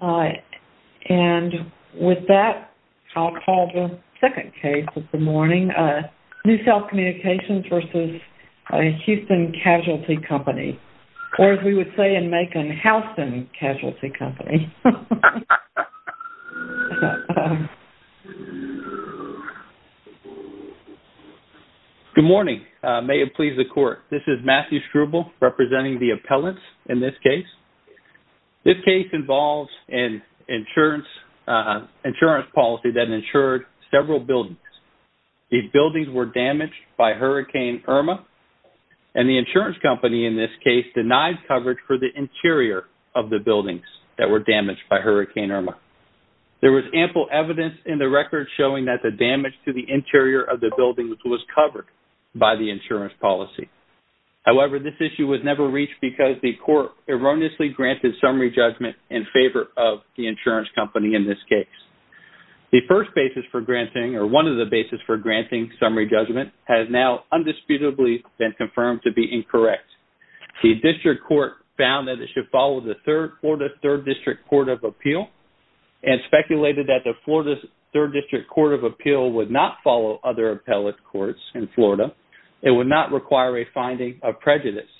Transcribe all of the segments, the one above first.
And with that, I'll call the second case of the morning, New South Communications v. Houston Casualty Company, or as we would say in Macon, Houston Casualty Company. Good morning. May it please the Court. This is Matthew Schruble representing the appellants in this case. This case involves an insurance policy that insured several buildings. These buildings were damaged by Hurricane Irma, and the insurance company in this case denied coverage for the interior of the buildings that were damaged by Hurricane Irma. There was ample evidence in the record showing that the damage to the interior of the buildings was covered by the insurance policy. However, this issue was never reached because the Court erroneously granted summary judgment in favor of the insurance company in this case. The first basis for granting or one of the basis for granting summary judgment has now undisputably been confirmed to be incorrect. The District Court found that it should follow the Florida 3rd District Court of Appeal and speculated that the Florida 3rd District Court of Appeal would not follow other appellate courts in Florida. It would not require a finding of prejudice.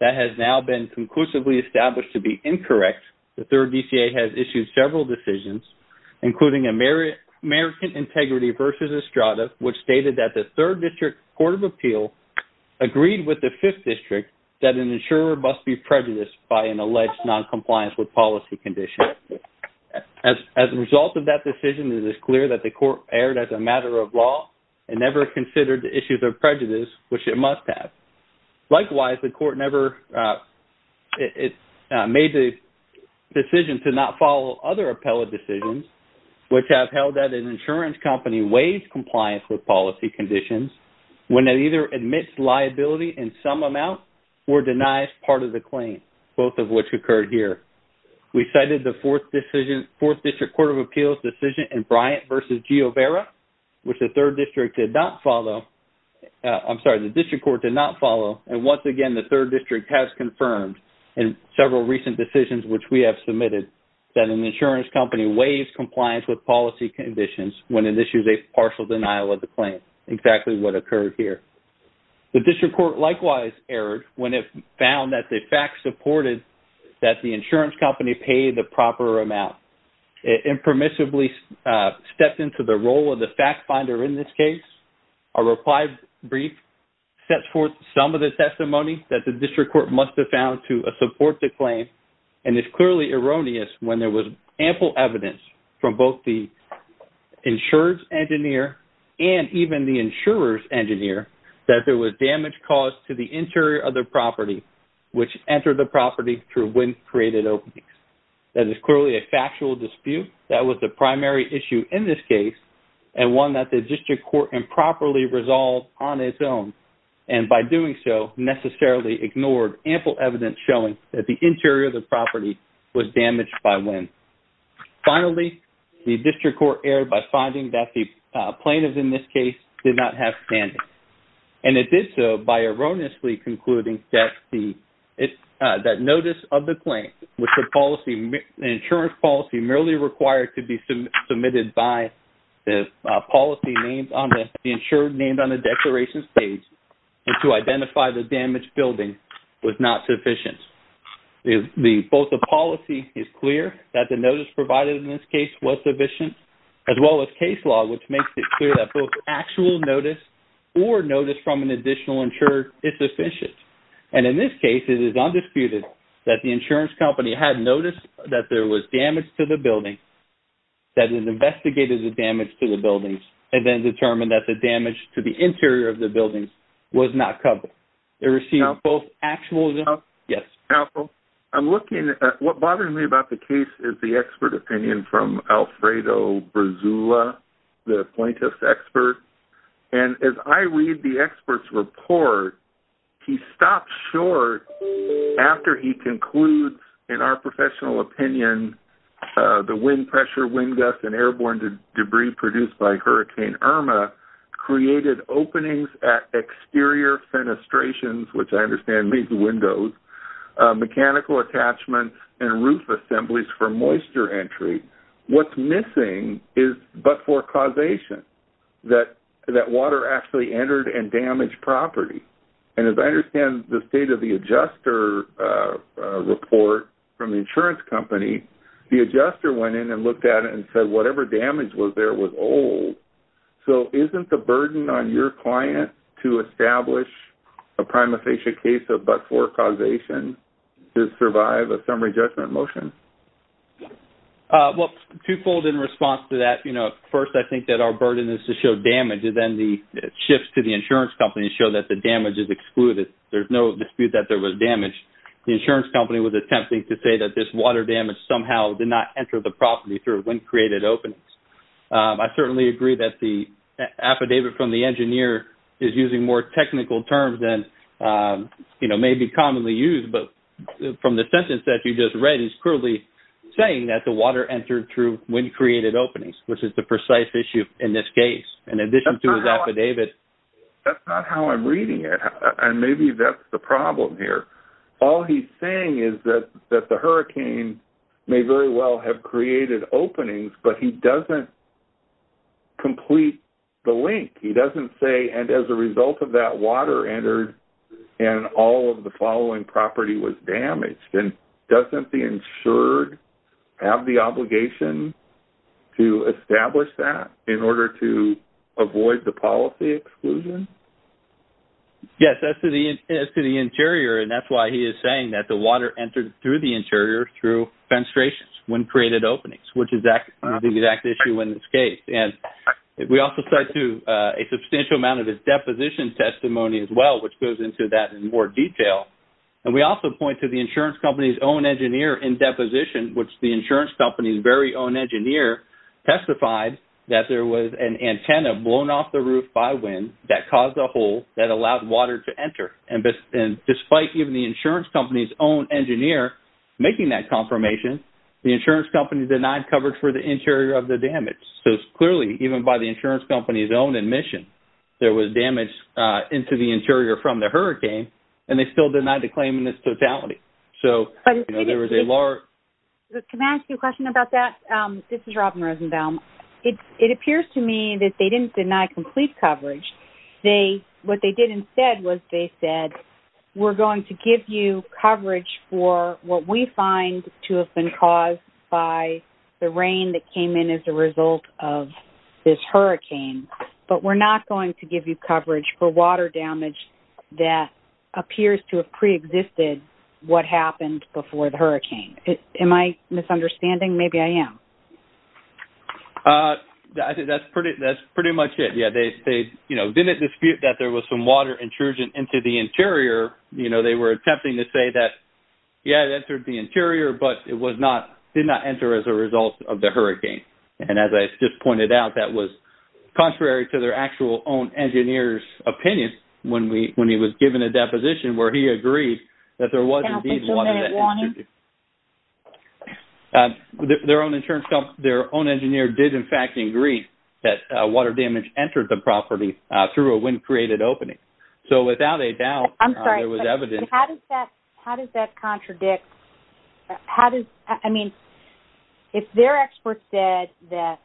That has now been conclusively established to be incorrect. The 3rd DCA has issued several decisions, including American Integrity v. Estrada, which stated that the 3rd District Court of Appeal agreed with the 5th District that an insurer must be prejudiced by an alleged noncompliance with policy conditions. As a result of that decision, it is clear that the Court erred as a matter of law and never considered the issues of prejudice, which it must have. Likewise, the Court never made the decision to not follow other appellate decisions, which have held that an insurance company waives compliance with policy conditions when it either admits liability in some amount or denies part of the claim, both of which occurred here. We cited the 4th District Court of Appeal's decision in Bryant v. Giovera, which the District Court did not follow. Once again, the 3rd District has confirmed in several recent decisions which we have submitted that an insurance company waives compliance with policy conditions when it issues a partial denial of the claim, exactly what occurred here. The District Court likewise erred when it found that the facts supported that the insurance company paid the proper amount. It impermissibly stepped into the role of the fact finder in this case. A reply brief sets forth some of the testimony that the District Court must have found to support the claim, and it's clearly erroneous when there was ample evidence from both the insurance engineer and even the insurer's engineer that there was damage caused to the interior of the property, which entered the property through wind-created openings. That is clearly a factual dispute. That was the primary issue in this case, and one that the District Court improperly resolved on its own, and by doing so necessarily ignored ample evidence showing that the interior of the property was damaged by wind. Finally, the District Court erred by finding that the plaintiffs in this case did not have standing, and it did so by erroneously concluding that notice of the claim, which the insurance policy merely required to be submitted by the policy named on the declaration page to identify the damaged building, was not sufficient. Both the policy is clear, that the notice provided in this case was sufficient, as well as case law, which makes it clear that both actual notice or notice from an additional insurer is sufficient. And in this case, it is undisputed that the insurance company had noticed that there was damage to the building, that it investigated the damage to the building, and then determined that the damage to the interior of the building was not covered. It received both actual... Yes. I'm looking at what bothers me about the case is the expert opinion from Alfredo Brazula, the plaintiff's expert, and as I read the expert's report, he stops short after he concludes, in our professional opinion, the wind pressure, wind gusts, and airborne debris produced by Hurricane Irma created openings at exterior fenestrations, which I understand means windows, mechanical attachments, and roof assemblies for moisture entry. What's missing is but-for causation, that water actually entered and damaged property. And as I understand the state of the adjuster report from the insurance company, the adjuster went in and looked at it and said whatever damage was there was old. So isn't the burden on your client to establish a prima facie case of but-for causation to survive a summary judgment motion? Well, twofold in response to that. First, I think that our burden is to show damage, and then the shifts to the insurance company show that the damage is excluded. There's no dispute that there was damage. The insurance company was attempting to say that this water damage somehow did not enter the property through wind-created openings. I certainly agree that the affidavit from the engineer is using more technical terms than may be commonly used, but from the sentence that you just read, he's clearly saying that the water entered through wind-created openings, which is the precise issue in this case, in addition to his affidavit. That's not how I'm reading it, and maybe that's the problem here. All he's saying is that the hurricane may very well have created openings, but he doesn't complete the link. He doesn't say, and as a result of that, water entered and all of the following property was damaged. Doesn't the insured have the obligation to establish that in order to avoid the policy exclusion? Yes, as to the interior, and that's why he is saying that the water entered through the interior through fenestrations, wind-created openings, which is the exact issue in this case. We also cite a substantial amount of his deposition testimony as well, which goes into that in more detail. We also point to the insurance company's own engineer in deposition, which the insurance company's very own engineer testified that there was an antenna blown off the roof by wind that caused a hole that allowed water to enter. Despite even the insurance company's own engineer making that confirmation, the insurance company denied coverage for the interior of the damage. Clearly, even by the insurance company's own admission, there was damage into the interior from the hurricane, and they still denied the claim in its totality. Can I ask you a question about that? This is Robin Rosenbaum. It appears to me that they didn't deny complete coverage. What they did instead was they said, we're going to give you coverage for what we find to have been caused by the rain that came in as a result of this hurricane, but we're not going to give you coverage for water damage that appears to have preexisted what happened before the hurricane. Am I misunderstanding? Maybe I am. I think that's pretty much it. They didn't dispute that there was some water intrusion into the interior. They were attempting to say that, yes, it entered the interior, but it did not enter as a result of the hurricane. And as I just pointed out, that was contrary to their actual own engineer's opinion when he was given a deposition where he agreed that there was indeed water damage. Can I offer some warning? Their own engineer did, in fact, agree that water damage entered the property through a wind-created opening. So without a doubt, there was evidence. I'm sorry. How does that contradict? I mean, if their expert said that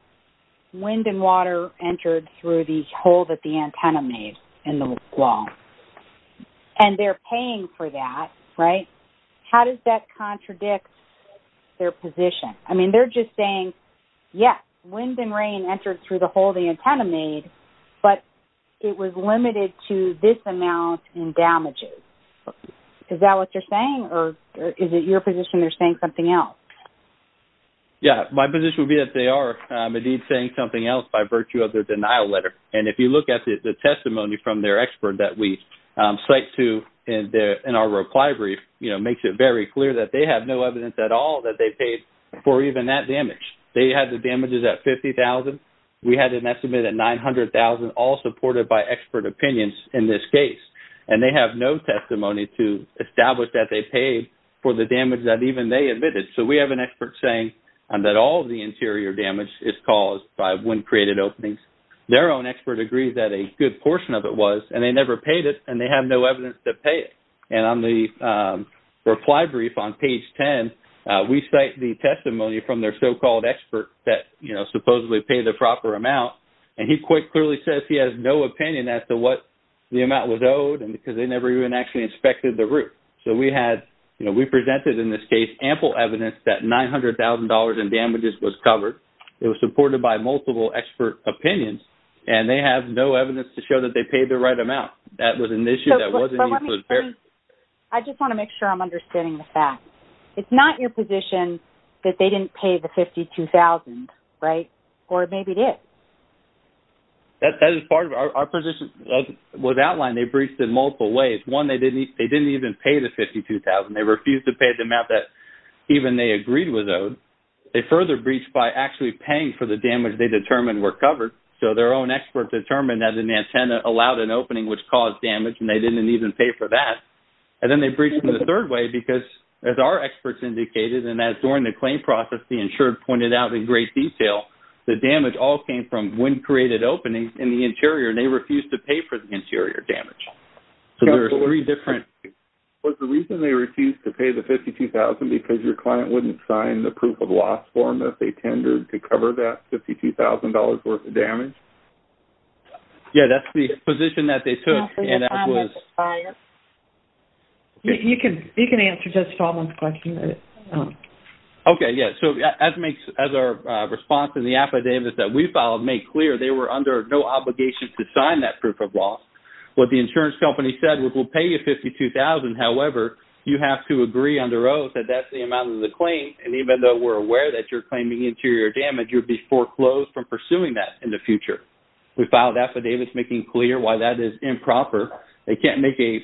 wind and water entered through the hole that the antenna made in the wall, and they're paying for that, right, how does that contradict their position? I mean, they're just saying, yes, wind and rain entered through the hole the antenna made, but it was limited to this amount in damages. Is that what you're saying, or is it your position they're saying something else? Yes. My position would be that they are indeed saying something else by virtue of their denial letter. And if you look at the testimony from their expert that we cite to in our reply brief, it makes it very clear that they have no evidence at all that they paid for even that damage. They had the damages at $50,000. We had an estimate at $900,000, all supported by expert opinions in this case. And they have no testimony to establish that they paid for the damage that even they admitted. So we have an expert saying that all of the interior damage is caused by wind created openings. Their own expert agrees that a good portion of it was, and they never paid it and they have no evidence to pay it. And on the reply brief on page 10, we cite the testimony from their so-called expert that, you know, supposedly paid the proper amount. And he quite clearly says he has no opinion as to what the amount was owed and because they never even actually inspected the roof. So we had, you know, we presented in this case ample evidence that $900,000 in damages was covered. It was supported by multiple expert opinions and they have no evidence to show that they paid the right amount. That was an issue that wasn't even fair. I just want to make sure I'm understanding the fact. It's not your position that they didn't pay the 52,000, right? Or maybe it is. That is part of our position was outlined. They breached in multiple ways. One, they didn't even pay the 52,000. They refused to pay the amount that even they agreed was owed. They further breached by actually paying for the damage they determined were covered. So their own expert determined that an antenna allowed an opening, which caused damage, and they didn't even pay for that. And then they breached in the third way because as our experts indicated, and as during the claim process, the insured pointed out in great detail, the damage all came from when created openings in the interior and they refused to pay for the interior damage. So there are three different... Was the reason they refused to pay the 52,000 because your client wouldn't sign the proof of loss form that they tendered to cover that $52,000 worth of damage? Yeah, that's the position that they took and that was... You can answer Judge Stallman's question. Okay, yeah. So as our response in the affidavits that we filed made clear, they were under no obligation to sign that proof of loss. What the insurance company said was we'll pay you 52,000. However, you have to agree under oath that that's the amount of the claim, and even though we're aware that you're claiming interior damage, you'll be foreclosed from pursuing that in the future. We filed affidavits making clear why that is improper. They can't make a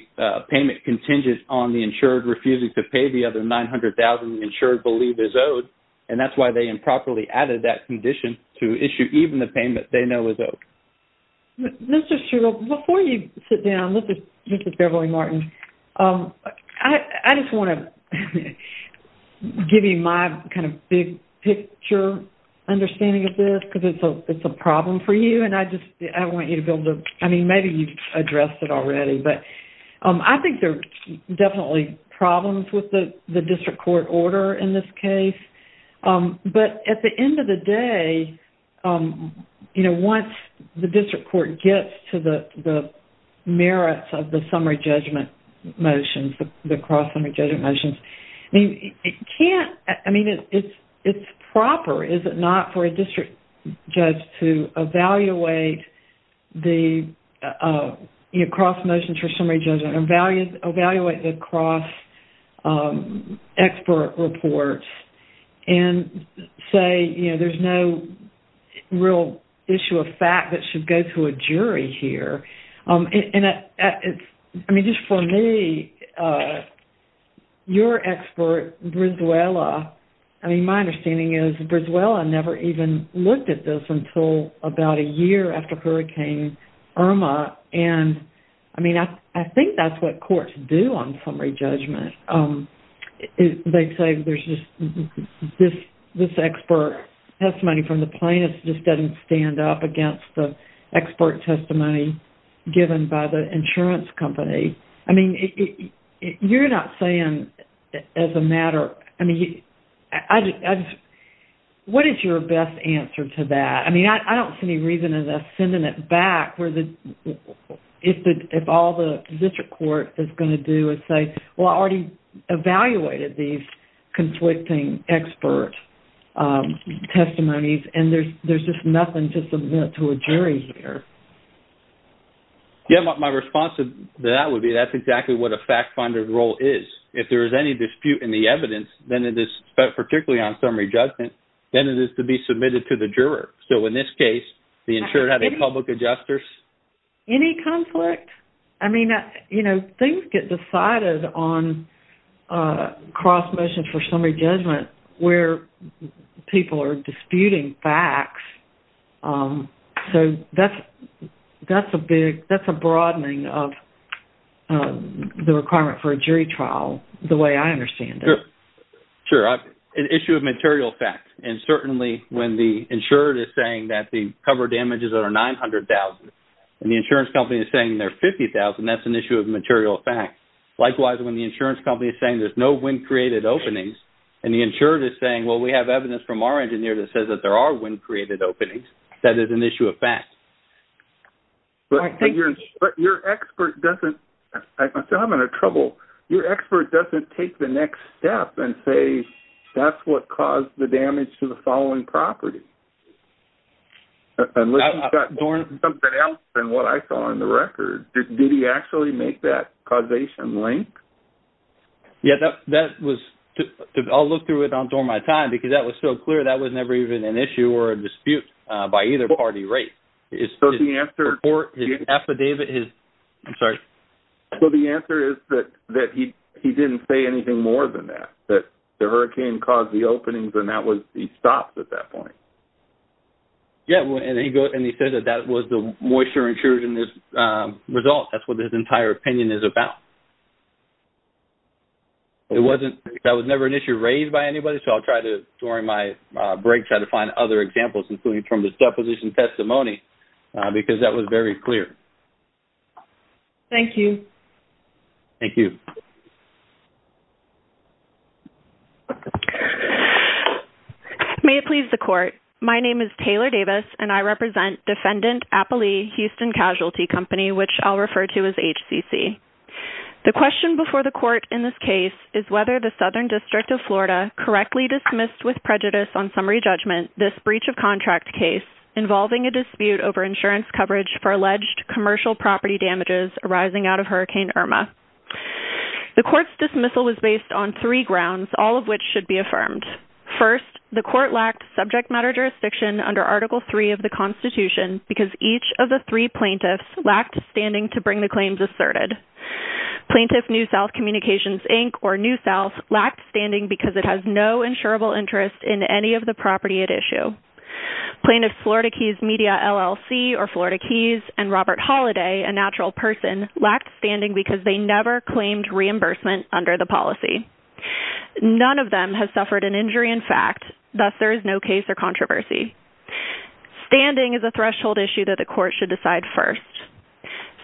payment contingent on the insured refusing to pay the other 900,000 insured believe is owed, and that's why they improperly added that condition to issue even the payment they know is owed. Mr. Shule, before you sit down, this is Beverly Martin. I just want to give you my kind of big picture understanding of this because it's a problem for you, and I just want you to be able to... I mean, maybe you've addressed it already, but I think there are definitely problems with the district court order in this case, but at the end of the day, once the district court gets to the merits of the summary judgment motions, the cross-summary judgment motions, I mean, it's proper, is it not, for a district judge to evaluate the cross-summary judgment, evaluate the cross-expert reports, and say there's no real issue of fact that should go to a jury here. I mean, just for me, your expert, Brizuela, I mean, my understanding is Brizuela never even looked at this until about a year after Hurricane Irma, and I mean, I think that's what courts do on summary judgment. They say there's just this expert testimony from the plaintiff just doesn't stand up against the expert testimony given by the insurance company. I mean, you're not saying as a matter... I mean, what is your best answer to that? I mean, I don't see any reason in us sending it back if all the district court is going to do is say, well, I already evaluated these conflicting expert testimonies, and there's just nothing to submit to a jury here. Yeah, my response to that would be that's exactly what a fact-finding role is. If there is any dispute in the evidence, then it is, particularly on summary judgment, then it is to be submitted to the juror. So in this case, the insured have a public adjuster. Any conflict? I mean, you know, things get decided on cross-mission for summary judgment where people are disputing facts. So that's a big... That's a broadening of the requirement for a jury trial the way I understand it. Sure. An issue of material facts. And certainly when the insured is saying that the cover damage is over $900,000 and the insurance company is saying they're $50,000, that's an issue of material facts. Likewise, when the insurance company is saying there's no wind-created openings, and the insured is saying, well, we have evidence from our engineer that says that there are wind-created openings, that is an issue of facts. But your expert doesn't... I'm still having trouble. Your expert doesn't take the next step and say, that's what caused the damage to the following property. Unless he's got something else than what I saw in the record. Did he actually make that causation link? Yeah, that was... I'll look through it on dormitime because that was so clear. But that was never even an issue or a dispute by either party, right? So the answer... His affidavit is... I'm sorry. So the answer is that he didn't say anything more than that, that the hurricane caused the openings and that was... he stopped at that point. Yeah, and he said that that was the moisture insured in this result. That's what his entire opinion is about. It wasn't... that was never an issue raised by anybody, so I'll try to, during my break, try to find other examples, including from this deposition testimony, because that was very clear. Thank you. Thank you. May it please the court. My name is Taylor Davis, and I represent Defendant Appalee Houston Casualty Company, which I'll refer to as HCC. The question before the court in this case is whether the Southern District of Florida correctly dismissed with prejudice on summary judgment this breach of contract case involving a dispute over insurance coverage for alleged commercial property damages arising out of Hurricane Irma. The court's dismissal was based on three grounds, all of which should be affirmed. First, the court lacked subject matter jurisdiction under Article III of the Constitution because each of the three plaintiffs lacked standing to bring the claims asserted. Plaintiff New South Communications, Inc., or New South, lacked standing because it has no insurable interest in any of the property at issue. Plaintiffs Florida Keys Media, LLC, or Florida Keys, and Robert Holliday, a natural person, lacked standing because they never claimed reimbursement under the policy. None of them has suffered an injury in fact, thus there is no case or controversy. Standing is a threshold issue that the court should decide first.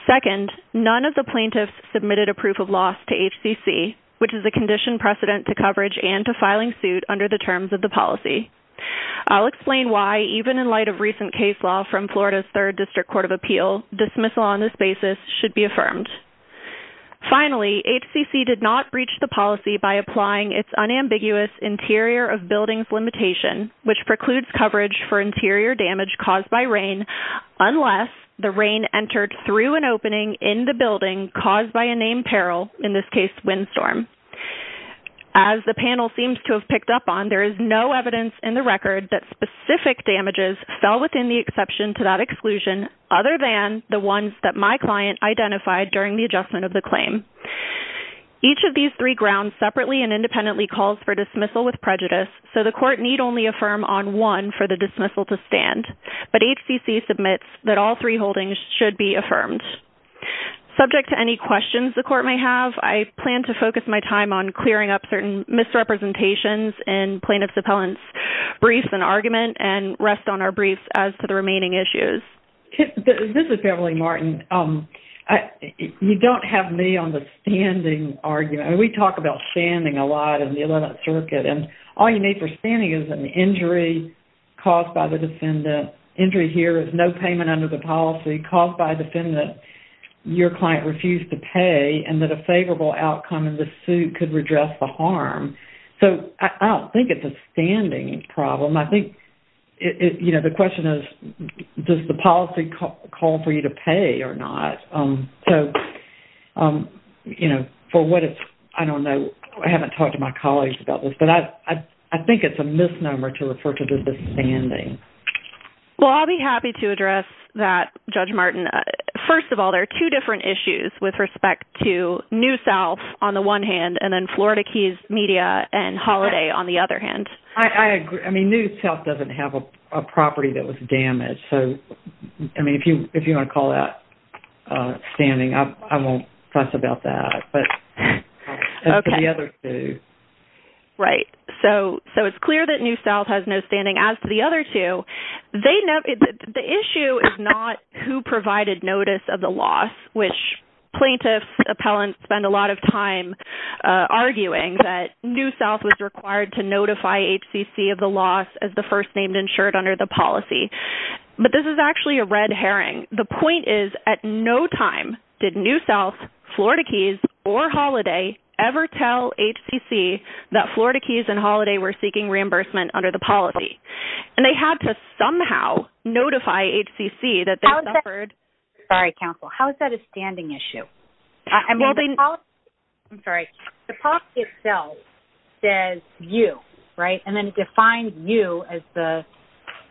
Second, none of the plaintiffs submitted a proof of loss to HCC, which is a condition precedent to coverage and to filing suit under the terms of the policy. I'll explain why, even in light of recent case law from Florida's Third District Court of Appeal, dismissal on this basis should be affirmed. Finally, HCC did not breach the policy by applying its unambiguous interior of buildings limitation, which precludes coverage for interior damage caused by rain unless the rain entered through an opening in the building caused by a named peril, in this case, windstorm. As the panel seems to have picked up on, there is no evidence in the record that specific damages fell within the exception to that exclusion other than the ones that my client identified during the adjustment of the claim. Each of these three grounds separately and independently calls for dismissal with prejudice, so the court need only affirm on one for the dismissal to stand. But HCC submits that all three holdings should be affirmed. Subject to any questions the court may have, I plan to focus my time on clearing up certain misrepresentations in plaintiff's appellant's briefs and argument and rest on our briefs as to the remaining issues. This is Beverly Martin. You don't have me on the standing argument. We talk about standing a lot in the 11th Circuit, and all you need for standing is an injury caused by the defendant. Injury here is no payment under the policy caused by a defendant your client refused to pay and that a favorable outcome in the suit could redress the harm. So I don't think it's a standing problem. I think, you know, the question is, does the policy call for you to pay or not? So, you know, for what it's... I don't know. I haven't talked to my colleagues about this, but I think it's a misnomer to refer to this as standing. Well, I'll be happy to address that, Judge Martin. First of all, there are two different issues with respect to New South on the one hand and then Florida Keys Media and Holiday on the other hand. I agree. I mean, New South doesn't have a property that was damaged, so, I mean, if you want to call that standing, I won't fuss about that, but... Okay. Right. So it's clear that New South has no standing. As to the other two, the issue is not who provided notice of the loss, which plaintiffs, appellants, spend a lot of time arguing that New South was required to notify HCC of the loss as the first named insured under the policy. But this is actually a red herring. The point is, at no time did New South, Florida Keys, or Holiday ever tell HCC that Florida Keys and Holiday were seeking reimbursement under the policy. And they had to somehow notify HCC that they suffered... Sorry, counsel. How is that a standing issue? I'm sorry. The policy itself says you, right? And then it defines you as the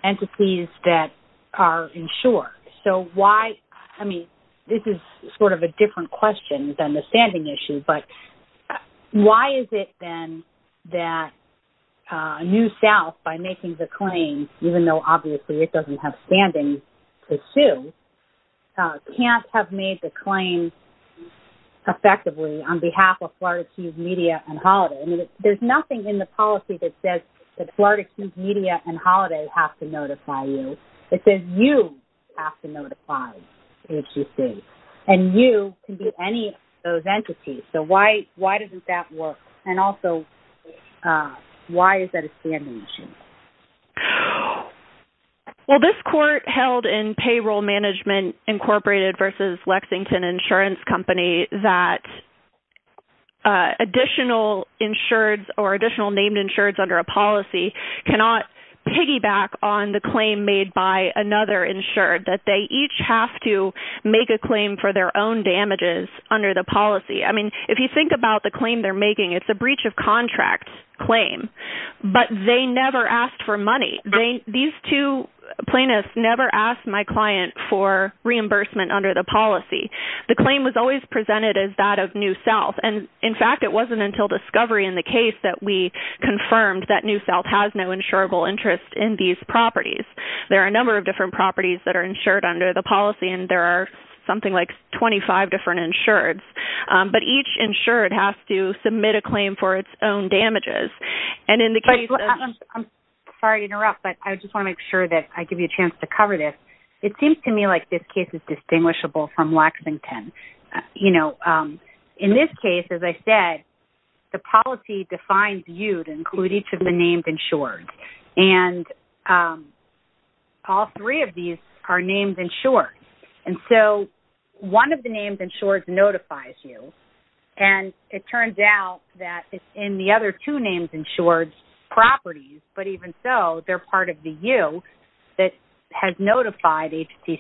entities that are insured. So why... I mean, this is sort of a different question than the standing issue, but why is it then that New South, by making the claim, even though obviously it doesn't have standing to sue, can't have made the claim effectively on behalf of Florida Keys, Media, and Holiday? I mean, there's nothing in the policy that says that Florida Keys, Media, and Holiday have to notify you. It says you have to notify HCC. And you can be any of those entities. So why doesn't that work? And also, why is that a standing issue? Well, this court held in Payroll Management Incorporated versus Lexington Insurance Company that additional insureds or additional named insureds under a policy cannot piggyback on the claim made by another insured, that they each have to make a claim for their own damages under the policy. I mean, if you think about the claim they're making, it's a breach of contract claim, but they never asked for money. These two plaintiffs never asked my client for reimbursement under the policy. The claim was always presented as that of New South. And in fact, it wasn't until discovery in the case that we confirmed that New South has no insurable interest in these properties. There are a number of different properties that are insured under the policy, and there are something like 25 different insureds. But each insured has to submit a claim for its own damages. And in the case of... I'm sorry to interrupt, but I just want to make sure that I give you a chance to cover this. It seems to me like this case is distinguishable from Lexington. You know, in this case, as I said, the policy defines you to include each of the named insureds. And all three of these are named insureds. And so one of the named insureds notifies you, and it turns out that it's in the other two named insureds' properties, but even so, they're part of the you that has notified HTC.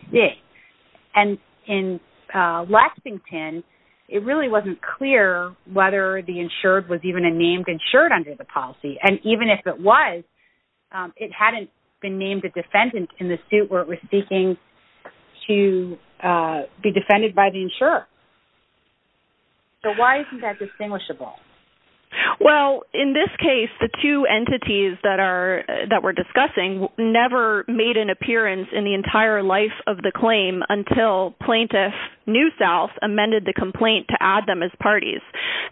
And in Lexington, it really wasn't clear whether the insured was even a named insured under the policy. And even if it was, it hadn't been named a defendant in the suit where it was speaking to be defended by the insurer. So why isn't that distinguishable? Well, in this case, the two entities that we're discussing never made an appearance in the entire life of the claim until plaintiff New South amended the complaint to add them as parties.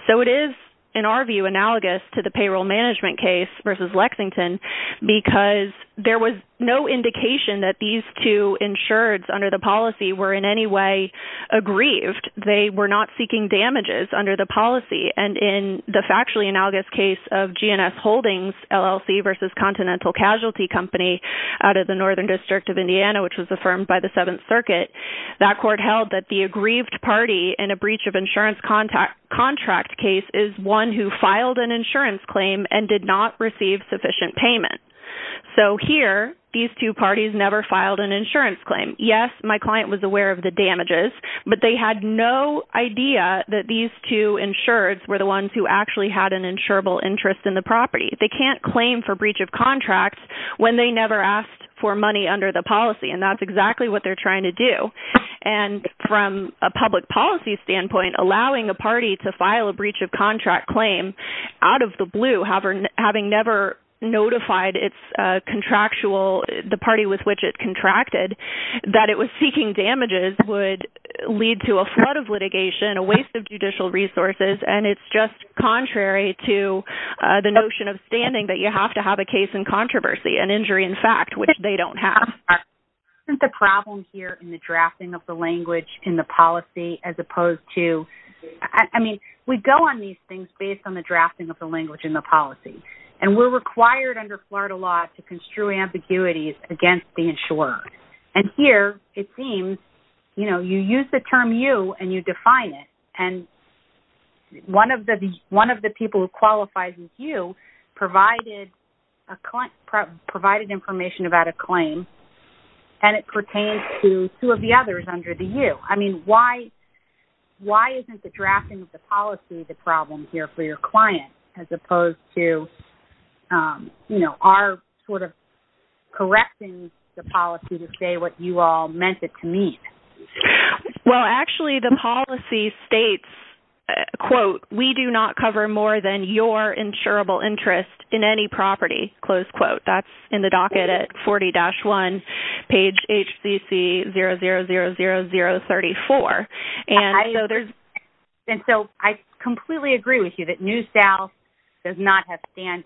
So it is, in our view, analogous to the payroll management case versus Lexington, because there was no indication that these two insureds under the policy were in any way aggrieved. They were not seeking damages under the policy. And in the factually analogous case of GNS Holdings, LLC versus Continental Casualty Company out of the Northern District of Indiana, which was affirmed by the Seventh Circuit, that court held that the aggrieved party in a breach of insurance contract case is one who filed an insurance claim and did not receive sufficient payment. So here, these two parties never filed an insurance claim. Yes, my client was aware of the damages, but they had no idea that these two insureds were the ones who actually had an insurable interest in the property. They can't claim for breach of contract when they never asked for money under the policy, and that's exactly what they're trying to do. And from a public policy standpoint, allowing a party to file a breach of contract claim out of the blue, having never notified the party with which it contracted that it was seeking damages would lead to a flood of litigation, a waste of judicial resources, and it's just contrary to the notion of standing that you have to have a case in controversy, an injury in fact, which they don't have. Isn't the problem here in the drafting of the language in the policy as opposed to... I mean, we go on these things based on the drafting of the language in the policy, and we're required under Florida law to construe ambiguities against the insurer. And here, it seems, you know, you use the term you and you define it, and one of the people who qualifies as you provided information about a claim, and it pertains to two of the others under the you. I mean, why isn't the drafting of the policy the problem here for your client as opposed to, you know, our sort of correcting the policy to say what you all meant it to mean? Well, actually, the policy states, quote, we do not cover more than your insurable interest in any property, close quote. That's in the docket at 40-1, page HCC000034. And so there's... And so I completely agree with you that New South does not have standing,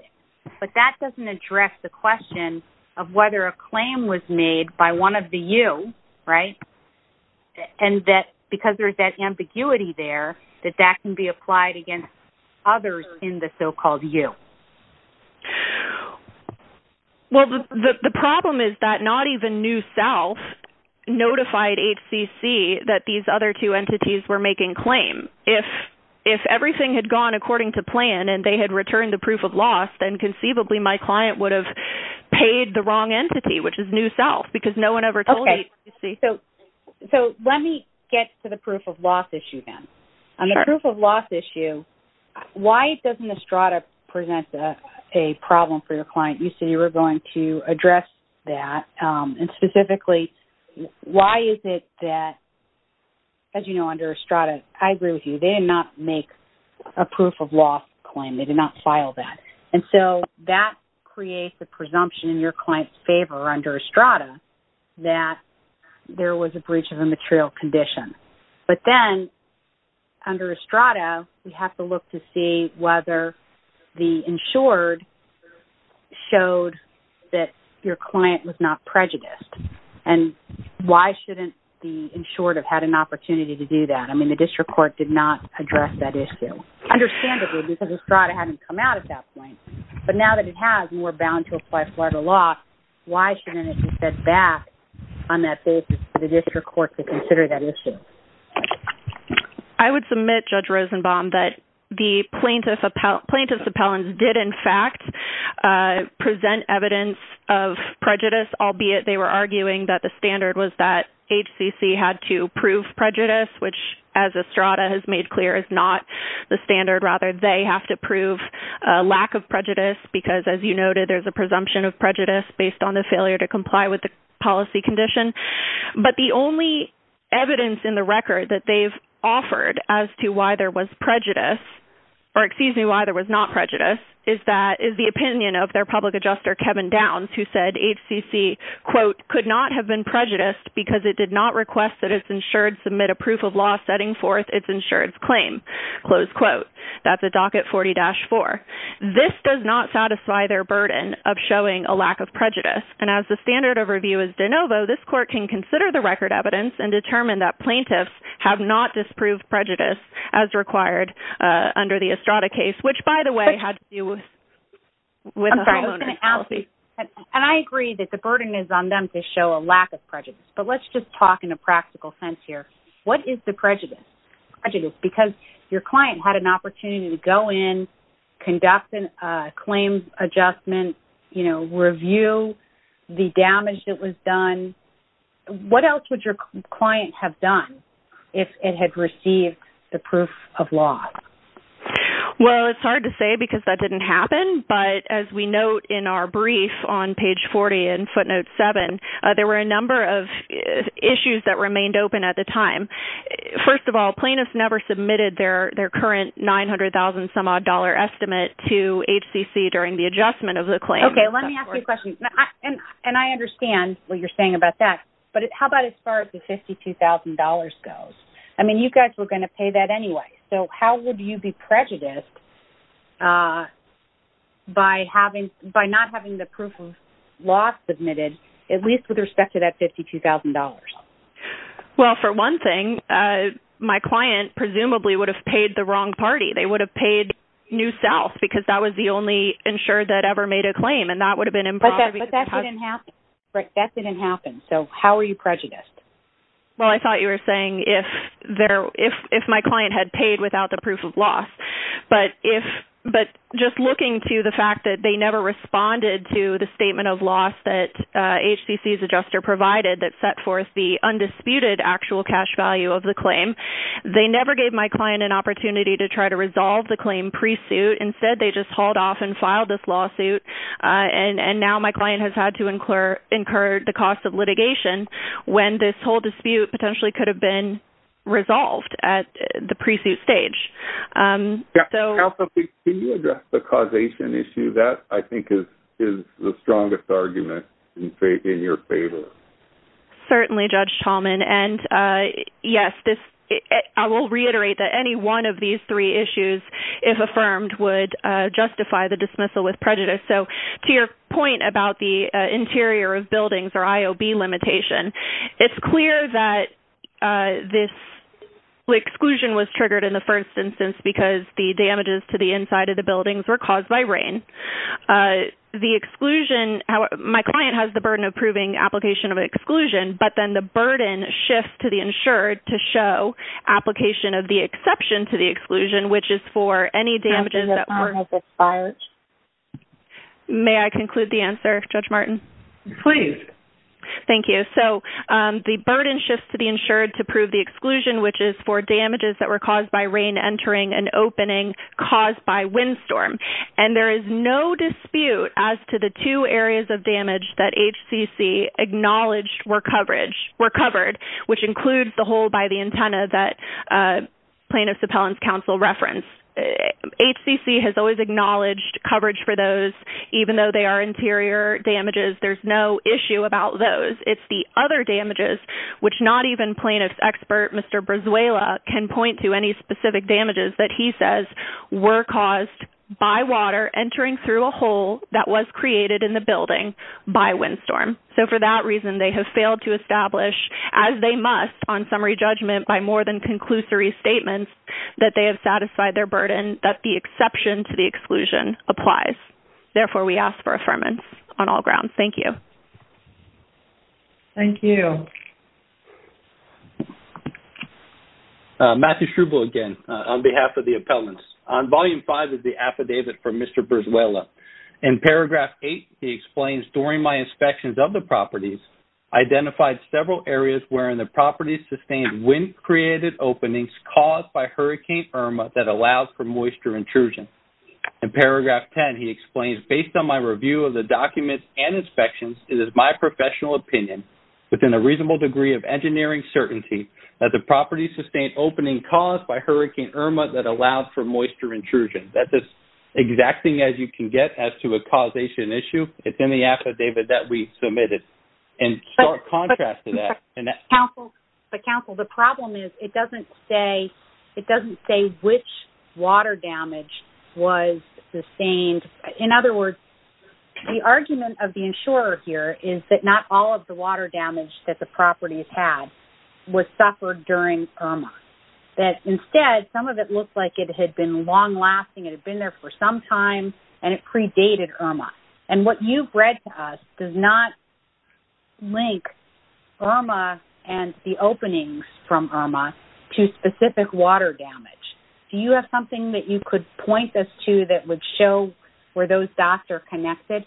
but that doesn't address the question of whether a claim was made by one of the you, right? And that because there's that ambiguity there, that that can be applied against others in the so-called you. Well, the problem is that not even New South notified HCC that these other two entities were making claim. If everything had gone according to plan and they had returned the proof of loss, then conceivably my client would have paid the wrong entity, which is New South, because no one ever told HCC. So let me get to the proof of loss issue then. On the proof of loss issue, why doesn't Estrada present a problem for your client? You said you were going to address that. And specifically, why is it that, as you know, under Estrada, I agree with you, they did not make a proof of loss claim. They did not file that. And so that creates a presumption in your client's favour under Estrada that there was a breach of a material condition. But then, under Estrada, we have to look to see whether the insured showed that your client was not prejudiced. And why shouldn't the insured have had an opportunity to do that? I mean, the district court did not address that issue. Understandably, because Estrada hadn't come out at that point. But now that it has, and we're bound to apply Florida law, why shouldn't it be said that, on that basis, for the district court to consider that issue? I would submit, Judge Rosenbaum, that the plaintiff's appellants did, in fact, present evidence of prejudice, albeit they were arguing that the standard was that HCC had to prove prejudice, which, as Estrada has made clear, is not the standard. Rather, they have to prove a lack of prejudice, because, as you noted, there's a presumption of prejudice based on the failure to comply with the policy condition. But the only evidence in the record that they've offered as to why there was prejudice, or, excuse me, why there was not prejudice, is the opinion of their public adjuster, Kevin Downs, who said HCC, quote, could not have been prejudiced because it did not request that its insured submit a proof of law setting forth its insured's claim. Close quote. That's a docket 40-4. This does not satisfy their burden of showing a lack of prejudice. And as the standard of review is de novo, this court can consider the record evidence and determine that plaintiffs have not disproved prejudice as required under the Estrada case, which, by the way, had to do with the Holoness policy. And I agree that the burden is on them to show a lack of prejudice, but let's just talk in a practical sense here. What is the prejudice? Because your client had an opportunity to go in, conduct a claims adjustment, you know, review the damage that was done. What else would your client have done if it had received the proof of law? Well, it's hard to say because that didn't happen, but as we note in our brief on page 40 in footnote 7, there were a number of issues that remained open at the time. First of all, plaintiffs never submitted their current $900,000-some-odd dollar estimate to HCC during the adjustment of the claim. Okay, let me ask you a question. And I understand what you're saying about that, but how about as far as the $52,000 goes? I mean, you guys were going to pay that anyway, so how would you be prejudiced by not having the proof of law submitted, at least with respect to that $52,000? Well, for one thing, my client presumably would have paid the wrong party. They would have paid New South because that was the only insurer that ever made a claim. But that didn't happen, so how are you prejudiced? Well, I thought you were saying if my client had paid without the proof of law. But just looking to the fact that they never responded to the statement of loss that HCC's adjuster provided that set forth the undisputed actual cash value of the claim. They never gave my client an opportunity to try to resolve the claim pre-suit. Instead, they just hauled off and filed this lawsuit. And now my client has had to incur the cost of litigation when this whole dispute potentially could have been resolved at the pre-suit stage. Also, can you address the causation issue? That, I think, is the strongest argument in your favor. Certainly, Judge Tallman. And yes, I will reiterate that any one of these three issues, if affirmed, would justify the dismissal with prejudice. So to your point about the interior of buildings or IOB limitation, it's clear that this exclusion was triggered in the first instance because the damages to the inside of the buildings were caused by rain. My client has the burden of proving application of exclusion, but then the burden shifts to the insured to show application of the exception to the exclusion, which is for any damages that were caused by rain. May I conclude the answer, Judge Martin? Please. Thank you. So the burden shifts to the insured to prove the exclusion, which is for damages that were caused by rain entering an opening caused by windstorm. And there is no dispute as to the two areas of damage that HCC acknowledged were covered, which includes the hole by the antenna that plaintiff's appellant's counsel referenced. HCC has always acknowledged coverage for those, even though they are interior damages. There's no issue about those. It's the other damages, which not even plaintiff's expert, Mr. Brazuela, can point to any specific damages that he says were caused by water entering through a hole that was created in the building by windstorm. So for that reason, they have failed to establish, as they must on summary judgment, by more than conclusory statements that they have satisfied their burden, that the exception to the exclusion applies. Therefore, we ask for affirmance on all grounds. Thank you. Thank you. Matthew Schruble again on behalf of the appellants. Volume 5 is the affidavit from Mr. Brazuela. In paragraph 8, he explains, during my inspections of the properties, I identified several areas wherein the properties sustained wind-created openings caused by Hurricane Irma that allows for moisture intrusion. In paragraph 10, he explains, based on my review of the documents and inspections, it is my professional opinion, within a reasonable degree of engineering certainty, that the properties sustained opening caused by Hurricane Irma that allowed for moisture intrusion. That's as exacting as you can get as to a causation issue. It's in the affidavit that we submitted. In stark contrast to that. But, counsel, the problem is it doesn't say which water damage was sustained. In other words, the argument of the insurer here is that not all of the water damage that the properties had was suffered during Irma. That, instead, some of it looked like it had been long-lasting, it had been there for some time, and it predated Irma. And what you've read to us does not link Irma and the openings from Irma to specific water damage. Do you have something that you could point us to that would show where those dots are connected?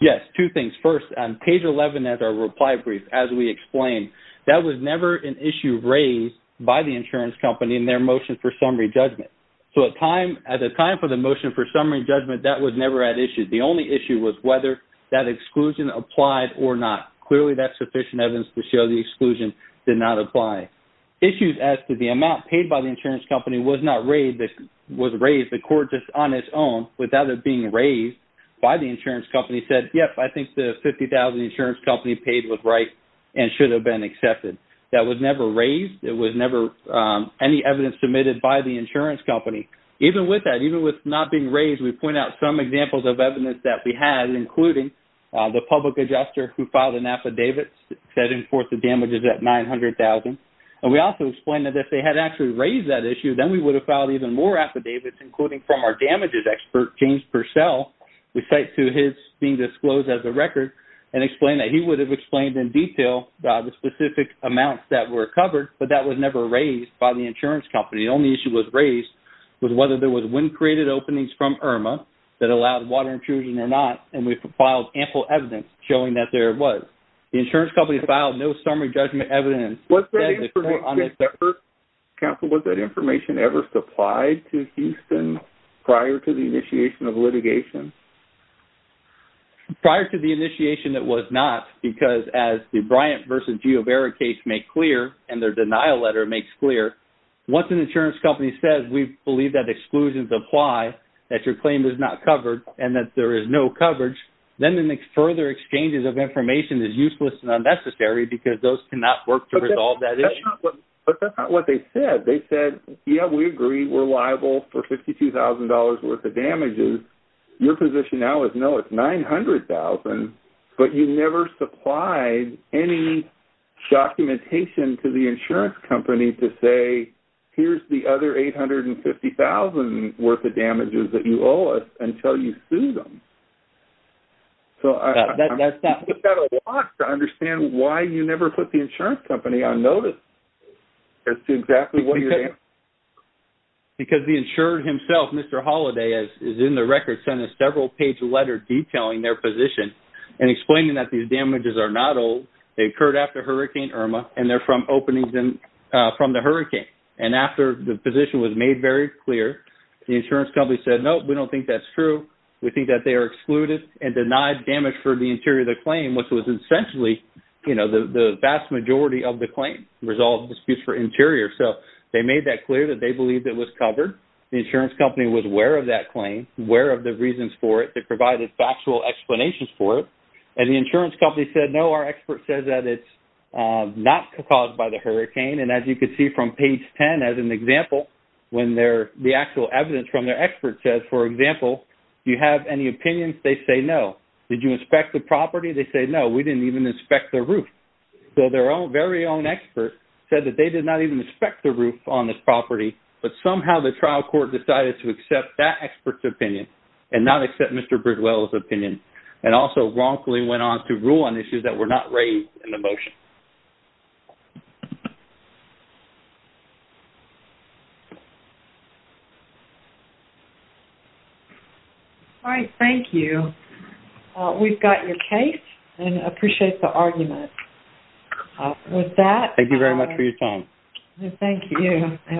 Yes. Two things. First, on page 11 of our reply brief, as we explained, that was never an issue raised by the insurance company in their motion for summary judgment. So, at the time for the motion for summary judgment, that was never at issue. The only issue was whether that exclusion applied or not. Clearly, that's sufficient evidence to show the exclusion did not apply. Issues as to the amount paid by the insurance company was not raised. The court, just on its own, without it being raised by the insurance company, said, yes, I think the $50,000 the insurance company paid was right and should have been accepted. That was never raised. There was never any evidence submitted by the insurance company. Even with that, even with it not being raised, we point out some examples of evidence that we had, including the public adjuster who filed an affidavit setting forth the damages at $900,000. And we also explained that if they had actually raised that issue, then we would have filed even more affidavits, including from our damages expert, James Purcell. We cite to his being disclosed as a record and explained that he would have explained in detail the specific amounts that were covered, but that was never raised by the insurance company. The only issue that was raised was whether there was wind-created openings from IRMA that allowed water intrusion or not, and we filed ample evidence showing that there was. The insurance company filed no summary judgment evidence. Was that information ever supplied to Houston prior to the initiation of litigation? Prior to the initiation, it was not, because as the Bryant v. Giovera case makes clear, and their denial letter makes clear, once an insurance company says we believe that exclusions apply, that your claim is not covered, and that there is no coverage, then the further exchanges of information is useless and unnecessary because those cannot work to resolve that issue. But that's not what they said. They said, yeah, we agree we're liable for $52,000 worth of damages. Your position now is, no, it's $900,000, but you never supplied any documentation to the insurance company to say, here's the other $850,000 worth of damages that you owe us until you sue them. So I put that a lot to understand why you never put the insurance company on notice as to exactly what you're doing. Because the insurer himself, Mr. Holiday, is in the record sending a several-page letter detailing their position and explaining that these damages are not old. They occurred after Hurricane Irma, and they're from openings from the hurricane. And after the position was made very clear, the insurance company said, no, we don't think that's true. We think that they are excluded and denied damage for the interior of the claim, which was essentially the vast majority of the claim, resolved disputes for interior. So they made that clear that they believed it was covered. The insurance company was aware of that claim, aware of the reasons for it. They provided factual explanations for it. And the insurance company said, no, our expert says that it's not caused by the hurricane. And as you can see from page 10 as an example, when the actual evidence from their expert says, for example, do you have any opinions? They say, no. Did you inspect the property? They say, no, we didn't even inspect the roof. So their very own expert said that they did not even inspect the roof on this property, but somehow the trial court decided to accept that expert's opinion and not accept Mr. Bridwell's opinion and also wrongfully went on to rule on issues that were not raised in the motion. All right. Thank you. We've got your case and appreciate the argument. With that. Thank you very much for your time. Thank you.